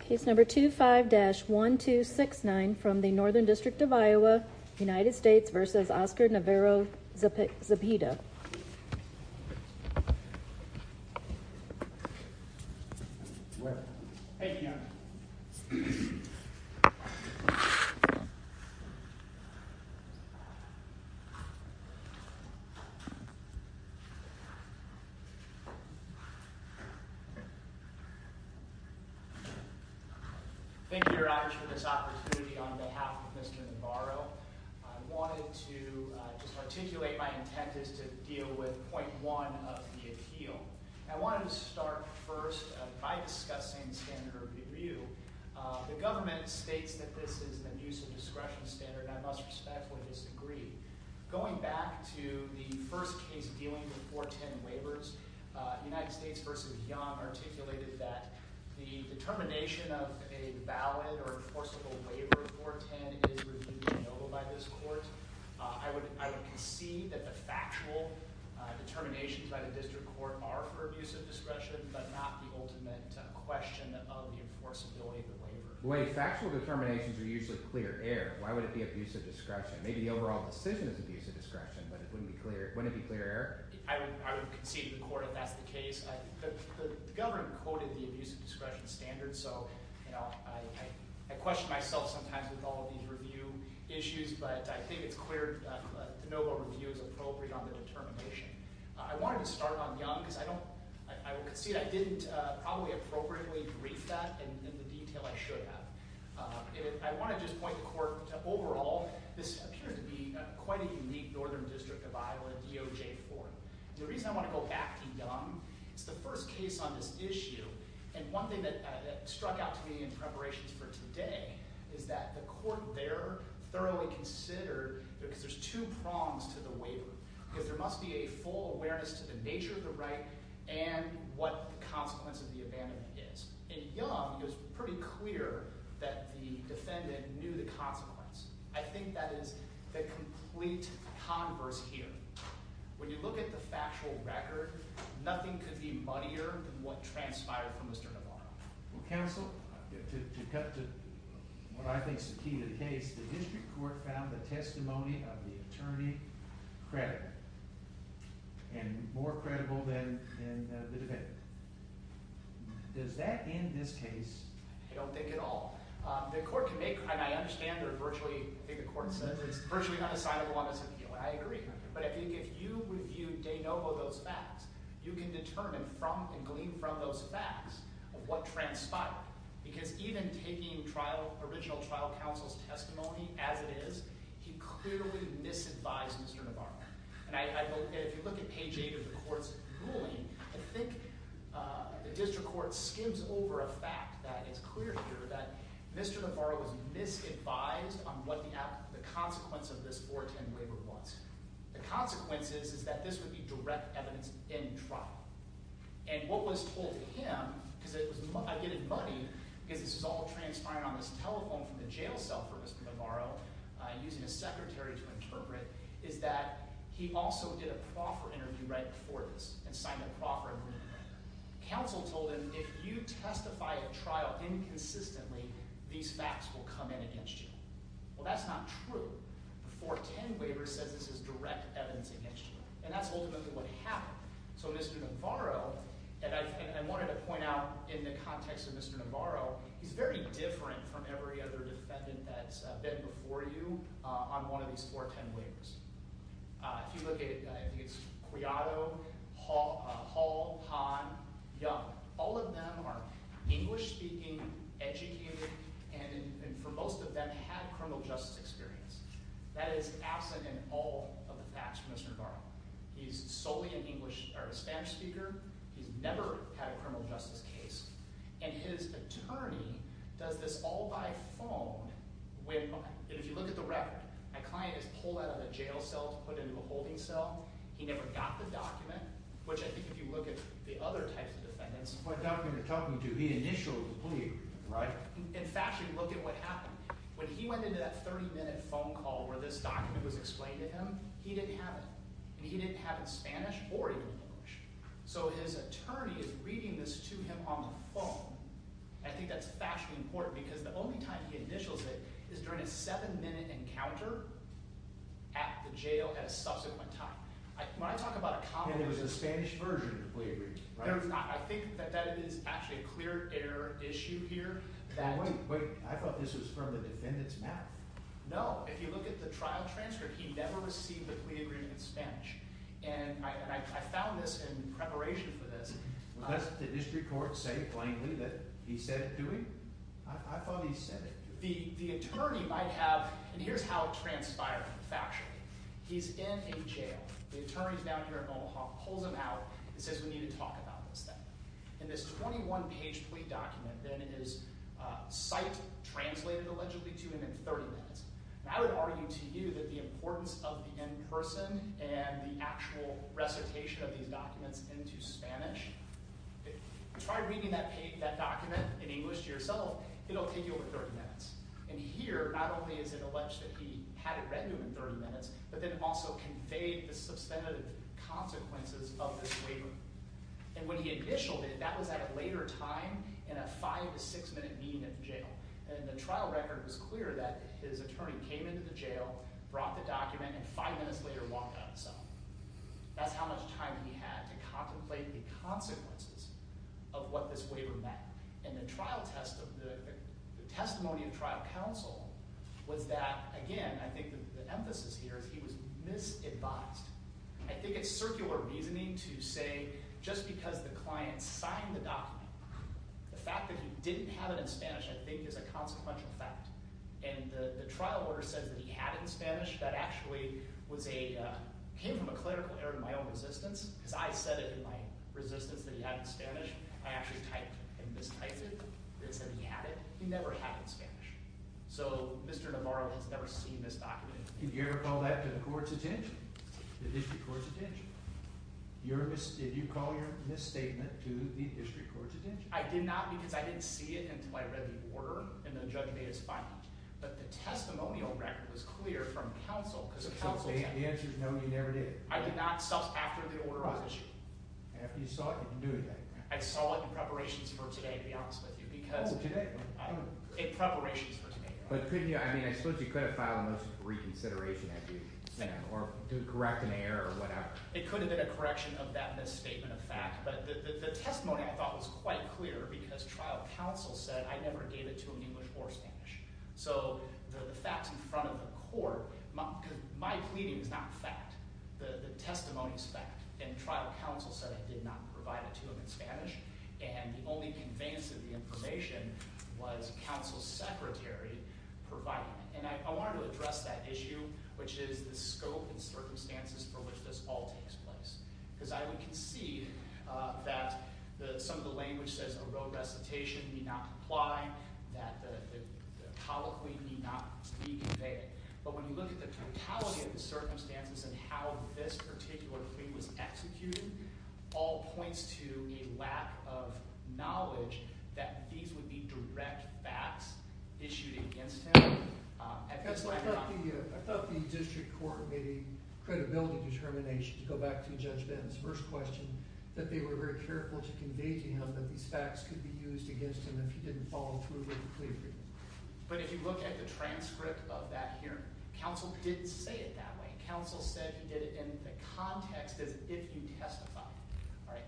Case number 25-1269 from the Northern District of Iowa, United States v. Oscar Navarro-Zepeda Thank you, Your Honors, for this opportunity. On behalf of Mr. Navarro, I wanted to articulate my intent is to deal with point one of the appeal. I wanted to start first by discussing standard of review. The government states that this is an abuse of discretion standard and I must respectfully disagree. Going back to the first case dealing with 410 waivers, United States v. Young articulated that the determination of a valid or enforceable waiver of 410 is reviewed and noted by this court. I would concede that the factual determinations by the district court are for abuse of discretion, but not the ultimate question of the enforceability of the waiver. Wait, factual determinations are usually clear air. Why would it be abuse of discretion? Maybe the overall decision is abuse of discretion, but wouldn't it be clear air? I would concede to the court if that's the case. The government quoted the abuse of discretion standard, so I question myself sometimes with all of these review issues, but I think it's clear to know what review is appropriate on the determination. I wanted to start on Young because I don't, I would concede I didn't probably appropriately brief that in the detail I should have. I want to just point the court to overall, this appears to be quite a unique northern district of Iowa, DOJ-4. The reason I want to go back to Young, it's the first case on this issue, and one thing that struck out to me in preparations for today is that the court there thoroughly considered, because there's two prongs to the waiver, because there must be a full awareness to the nature of the right and what the consequence of the abandonment is. In Young, it was pretty clear that the defendant knew the consequence. I think that is the complete converse here. When you look at the factual record, nothing could be muddier than what transpired for Mr. Navarro. Well, counsel, to cut to what I think is the key to the case, the district court found the testimony of the attorney credible, and more credible than the defendant. Does that end this case? I don't think at all. The court can make, and I understand they're virtually, I think the court said, it's virtually undecidable on this appeal. I agree. But I think if you review de novo those facts, you can determine from and glean from those facts what transpired. Why? Because even taking original trial counsel's testimony as it is, he clearly misadvised Mr. Navarro. And if you look at page 8 of the court's ruling, I think the district court skims over a fact that it's clear here that Mr. Navarro was misadvised on what the consequence of this 410 waiver was. The consequence is that this would be because this is all transpiring on this telephone from the jail cell for Mr. Navarro, using a secretary to interpret, is that he also did a proffer interview right before this and signed a proffer agreement. Counsel told him, if you testify at trial inconsistently, these facts will come in against you. Well, that's not true. The 410 waiver says this is direct evidence against you, and that's ultimately what happened. So Mr. Navarro, and I wanted to point out in the context of Mr. Navarro, he's very different from every other defendant that's been before you on one of these 410 waivers. If you look at Quijado, Hall, Hahn, Young, all of them are English-speaking, educated, and for most of them had criminal justice experience. That is absent in all of the facts for Mr. Navarro. He's solely a Spanish speaker. He's never had a criminal justice case, and his attorney does this all by phone. If you look at the record, my client is pulled out of a jail cell to put into a holding cell. He never got the document, which I think if you look at the other types of defendants... What document are you talking to? The initial plea, right? In fact, if you look at what happened, when he went into that 30-minute phone call where this document was explained to him, he didn't have it, and he didn't have it Spanish or even English. So his attorney is reading this to him on the phone, and I think that's factually important because the only time he initials it is during a 7-minute encounter at the jail at a subsequent time. When I talk about a common... And it was a Spanish version of the plea agreement, right? No, it's not. I think that that is actually a clear error issue here. Wait, I thought this was from the defendant's math. No, if you look at the trial transcript, he never received the plea agreement in Spanish, and I found this in preparation for this. Does the district court say plainly that he said it to him? I thought he said it to him. The attorney might have... And here's how it transpired factually. He's in a jail. The attorney's down here at Omaha, pulls him out, and says, And this 21-page plea document then is sight-translated, allegedly, to him in 30 minutes. And I would argue to you that the importance of the in-person and the actual recitation of these documents into Spanish... Try reading that document in English to yourself. It'll take you over 30 minutes. And here, not only is it alleged that he had it read to him in 30 minutes, but that it also conveyed the substantive consequences of this waiver. And when he initialed it, that was at a later time, in a five- to six-minute meeting at the jail. And the trial record was clear that his attorney came into the jail, brought the document, and five minutes later walked out himself. That's how much time he had to contemplate the consequences of what this waiver meant. And the testimony of trial counsel was that, again, I think the emphasis here is he was misadvised. I think it's circular reasoning to say, just because the client signed the document, the fact that he didn't have it in Spanish, I think, is a consequential fact. And the trial order says that he had it in Spanish. That actually came from a clerical error in my own resistance, because I said it in my resistance that he had it in Spanish. I actually typed it and mistyped it. They said he had it. He never had it in Spanish. So Mr. Navarro has never seen this document. Did you ever call that to the court's attention, the district court's attention? Did you call your misstatement to the district court's attention? I did not because I didn't see it until I read the order, and the judge made his finding. But the testimonial record was clear from counsel. So the answer is no, you never did? I did not, after the order was issued. After you saw it, you didn't do anything? I saw it in preparations for today, to be honest with you. Oh, today? In preparations for today. But couldn't you, I mean, I suppose you could have filed a motion for reconsideration, or to correct an error or whatever. It could have been a correction of that misstatement of fact, but the testimony I thought was quite clear because trial counsel said I never gave it to him in English or Spanish. So the fact in front of the court, because my pleading is not fact. The testimony is fact, and trial counsel said I did not provide it to him in Spanish. And the only conveyance of the information was counsel's secretary providing it. And I wanted to address that issue, which is the scope and circumstances for which this all takes place. Because I would concede that some of the language says a road recitation need not comply, that the colloquy need not be conveyed. But when you look at the totality of the circumstances and how this particular plea was executed, all points to a lack of knowledge that these would be direct facts issued against him. I thought the district court made a credibility determination to go back to Judge Benton's first question, that they were very careful to convey to him that these facts could be used against him if he didn't follow through with the plea agreement. But if you look at the transcript of that hearing, counsel didn't say it that way. Counsel said he did it in the context of if you testify.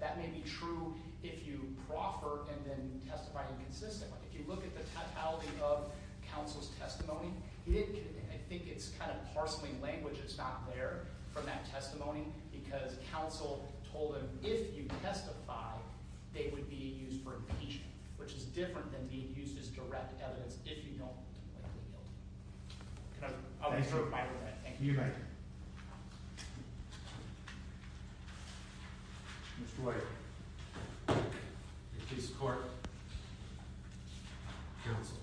That may be true if you proffer and then testify inconsistently. If you look at the totality of counsel's testimony, I think it's kind of parceling language that's not there from that testimony, because counsel told him if you testify, they would be used for impeachment, which is different than being used as direct evidence if you don't completely guilty. And I'll be short of my word on that. Thank you. You bet. Mr. White. Your case of court. Counsel.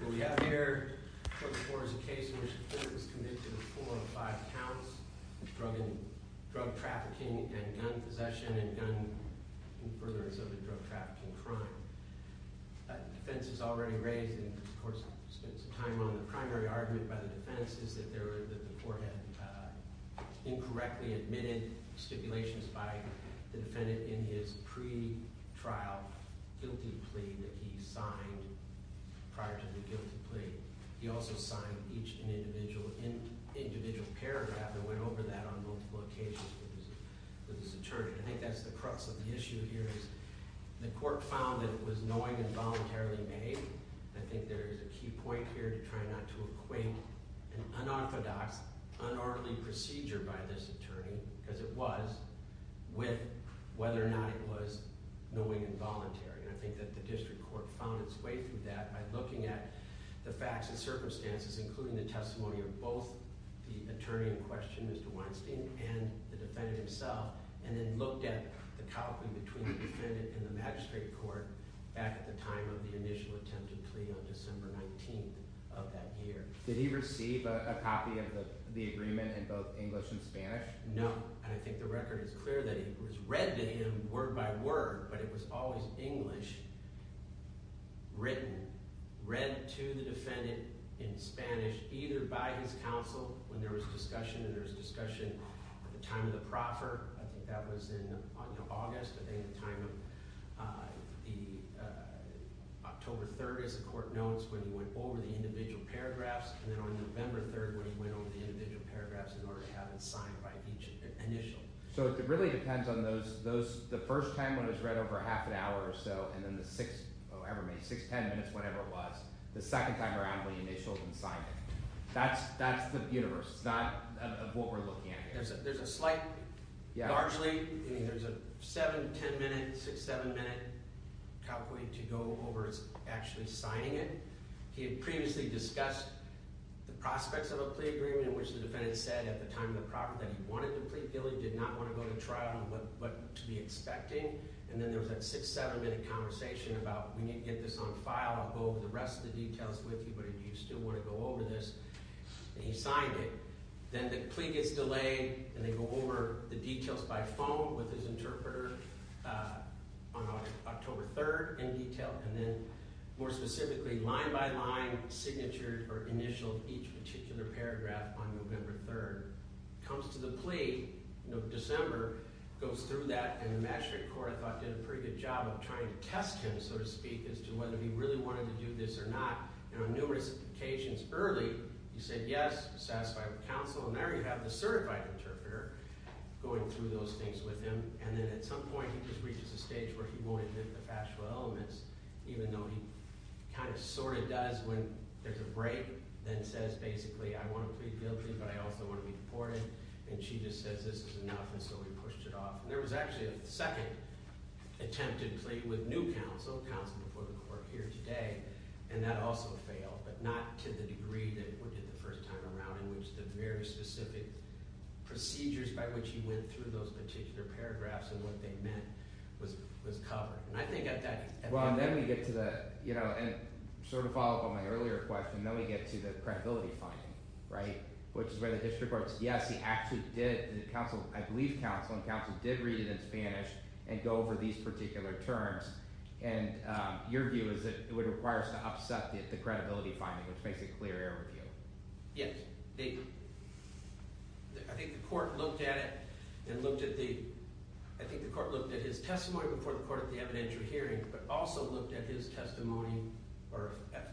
What we have here for the court is a case in which the court was convicted of four of five counts of drug trafficking and gun possession and gun, in furtherance of the drug trafficking crime. The defense has already raised, and of course spent some time on, the primary argument by the defense is that the court had incorrectly admitted stipulations by the defendant in his pretrial guilty plea that he signed prior to the guilty plea. He also signed each individual paragraph and went over that on multiple occasions with his attorney. I think that's the crux of the issue here is the court found that it was knowing and voluntarily made. I think there is a key point here to try not to equate an unorthodox, unorderly procedure by this attorney, because it was, with whether or not it was knowing and voluntary. And I think that the district court found its way through that by looking at the facts and circumstances, including the testimony of both the attorney in question, Mr. Weinstein, and the defendant himself, and then looked at the copy between the defendant and the magistrate court back at the time of the initial attempted plea on December 19th of that year. Did he receive a copy of the agreement in both English and Spanish? No. And I think the record is clear that it was read to him word by word, but it was always English written, read to the defendant in Spanish, either by his counsel when there was discussion, and there was discussion at the time of the proffer. I think that was in August, I think, the time of the October 3rd, as the court notes, when he went over the individual paragraphs. And then on November 3rd when he went over the individual paragraphs in order to have them signed by each initial. So it really depends on those – the first time when it was read over half an hour or so, and then the six – oh, never mind, six, ten minutes, whatever it was, the second time around when he initials and signs it. That's the universe. It's not what we're looking at here. There's a slight – largely, I mean, there's a seven, ten-minute, six, seven-minute pathway to go over actually signing it. He had previously discussed the prospects of a plea agreement, which the defendant said at the time of the proffer that he wanted to plead guilty, did not want to go to trial, and what to be expecting. And then there was that six, seven-minute conversation about we need to get this on file. I'll go over the rest of the details with you, but do you still want to go over this? And he signed it. Then the plea gets delayed, and they go over the details by phone with his interpreter on October 3rd in detail. And then more specifically, line by line, signatured or initialed each particular paragraph on November 3rd. Comes to the plea in December, goes through that, and the matchmaker court, I thought, did a pretty good job of trying to test him, so to speak, as to whether he really wanted to do this or not. And on numerous occasions early, he said yes, satisfied with counsel, and now you have the certified interpreter going through those things with him. And then at some point, he just reaches a stage where he won't admit the factual elements, even though he kind of sort of does when there's a break, then says basically, I want to plead guilty, but I also want to be deported. And she just says this is enough, and so we pushed it off. And there was actually a second attempt at plea with new counsel, counsel before the court here today, and that also failed, but not to the degree that it did the first time around in which the very specific procedures by which he went through those particular paragraphs and what they meant was covered. And I think at that point— Well, and then we get to the—and sort of follow up on my earlier question, then we get to the credibility finding, right, which is where the district court says yes, he actually did. I believe counsel, and counsel did read it in Spanish and go over these particular terms. And your view is that it would require us to upset the credibility finding, which makes it clear error review. Yes. I think the court looked at it and looked at the— I think the court looked at his testimony before the court at the evidentiary hearing, but also looked at his testimony or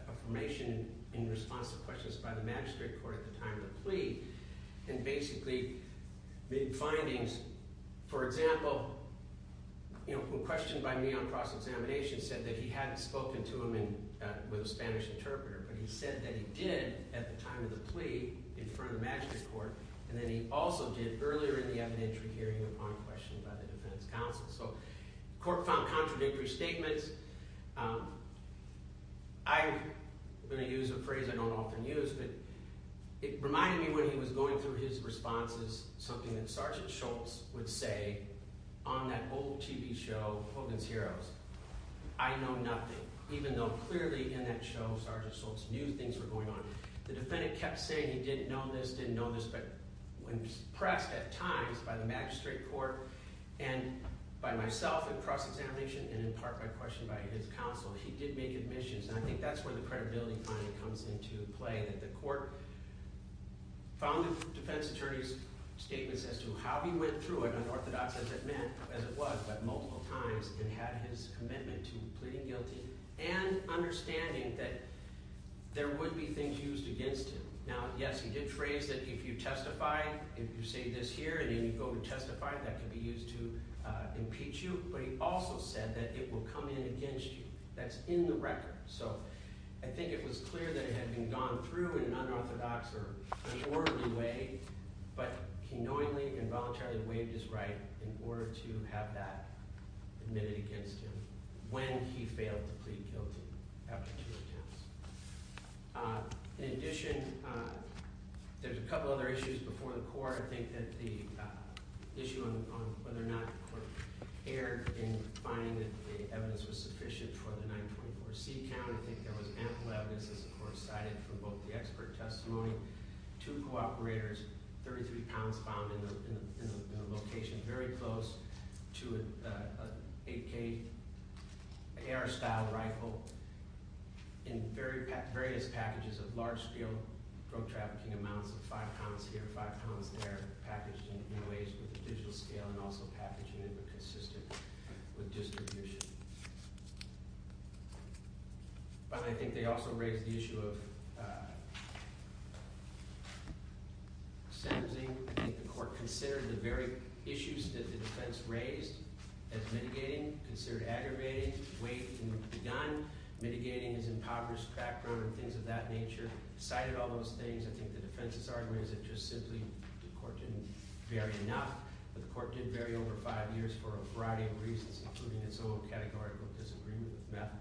affirmation in response to questions by the magistrate court at the time of the plea and basically made findings. For example, a question by me on cross-examination said that he hadn't spoken to him with a Spanish interpreter, but he said that he did at the time of the plea in front of the magistrate court, and that he also did earlier in the evidentiary hearing upon questions by the defense counsel. So the court found contradictory statements. I'm going to use a phrase I don't often use, but it reminded me when he was going through his responses, something that Sergeant Schultz would say on that old TV show, Hogan's Heroes, I know nothing, even though clearly in that show Sergeant Schultz knew things were going on. The defendant kept saying he didn't know this, didn't know this, but when pressed at times by the magistrate court and by myself in cross-examination and in part by questions by his counsel, he did make admissions. And I think that's where the credibility finding comes into play, that the court found the defense attorney's statements as to how he went through it, not unorthodox as it was, but multiple times, and had his commitment to pleading guilty and understanding that there would be things used against him. Now, yes, he did phrase that if you testify, if you say this here and then you go to testify, that could be used to impeach you, but he also said that it will come in against you. That's in the record. So I think it was clear that it had been gone through in an unorthodox or an orderly way, but he knowingly and voluntarily waived his right in order to have that admitted against him when he failed to plead guilty after two attempts. In addition, there's a couple other issues before the court. I think that the issue on whether or not the court erred in finding that the evidence was sufficient for the 924C count. I think there was ample evidence, as the court cited from both the expert testimony, two co-operators, 33 pounds found in a location very close to an 8K AR-style rifle in various packages of large-scale drug-trafficking amounts of five pounds here, five pounds there, packaged in new ways with a digital scale and also packaging that were consistent with distribution. Finally, I think they also raised the issue of sentencing. I think the court considered the very issues that the defense raised as mitigating, considered aggravating, weighting the gun, mitigating his impoverished background and things of that nature, cited all those things. I think the defense's argument is that just simply the court didn't vary enough, but the court did vary over five years for a variety of reasons, including its own categorical disagreement with meth,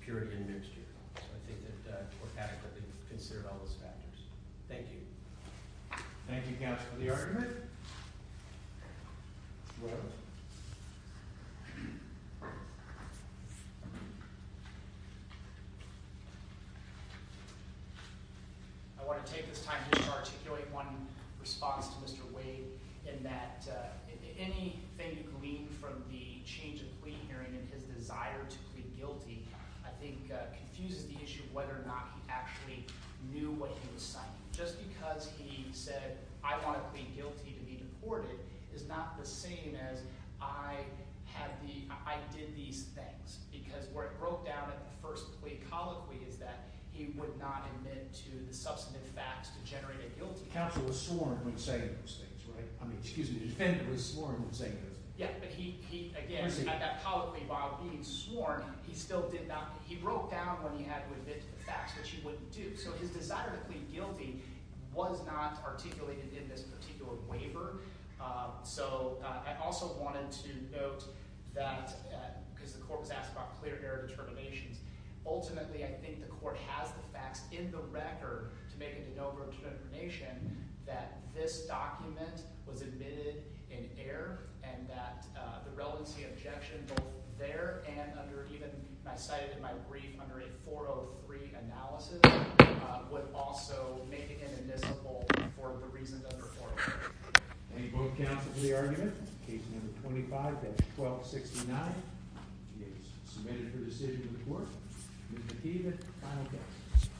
purity, and mixture. So I think that the court adequately considered all those factors. Thank you. Thank you, counsel, for the argument. Go ahead. I want to take this time just to articulate one response to Mr. Wade in that anything you glean from the change of plea hearing and his desire to plead guilty I think confuses the issue of whether or not he actually knew what he was citing. Just because he said, I want to plead guilty to be deported is not the same as I did these things. Because where it broke down at the first plea colloquy is that he would not admit to the substantive facts to generate a guilty. Counsel was sworn when saying those things, right? I mean, excuse me, defendant was sworn when saying those things. Yeah, but he, again, at that colloquy, while being sworn, he still did not – he broke down when he had to admit to the facts, which he wouldn't do. So his desire to plead guilty was not articulated in this particular waiver. So I also wanted to note that because the court was asked about clear error determinations, ultimately I think the court has the facts in the record to make a de novo determination that this document was admitted in error and that the relevancy objection both there and under even – I cited in my brief under a 403 analysis would also make it inadmissible for the reason under 403. Thank you both counsel for the argument. Case number 25-1269 is submitted for decision in the court. Mr. Kievan, final testimony.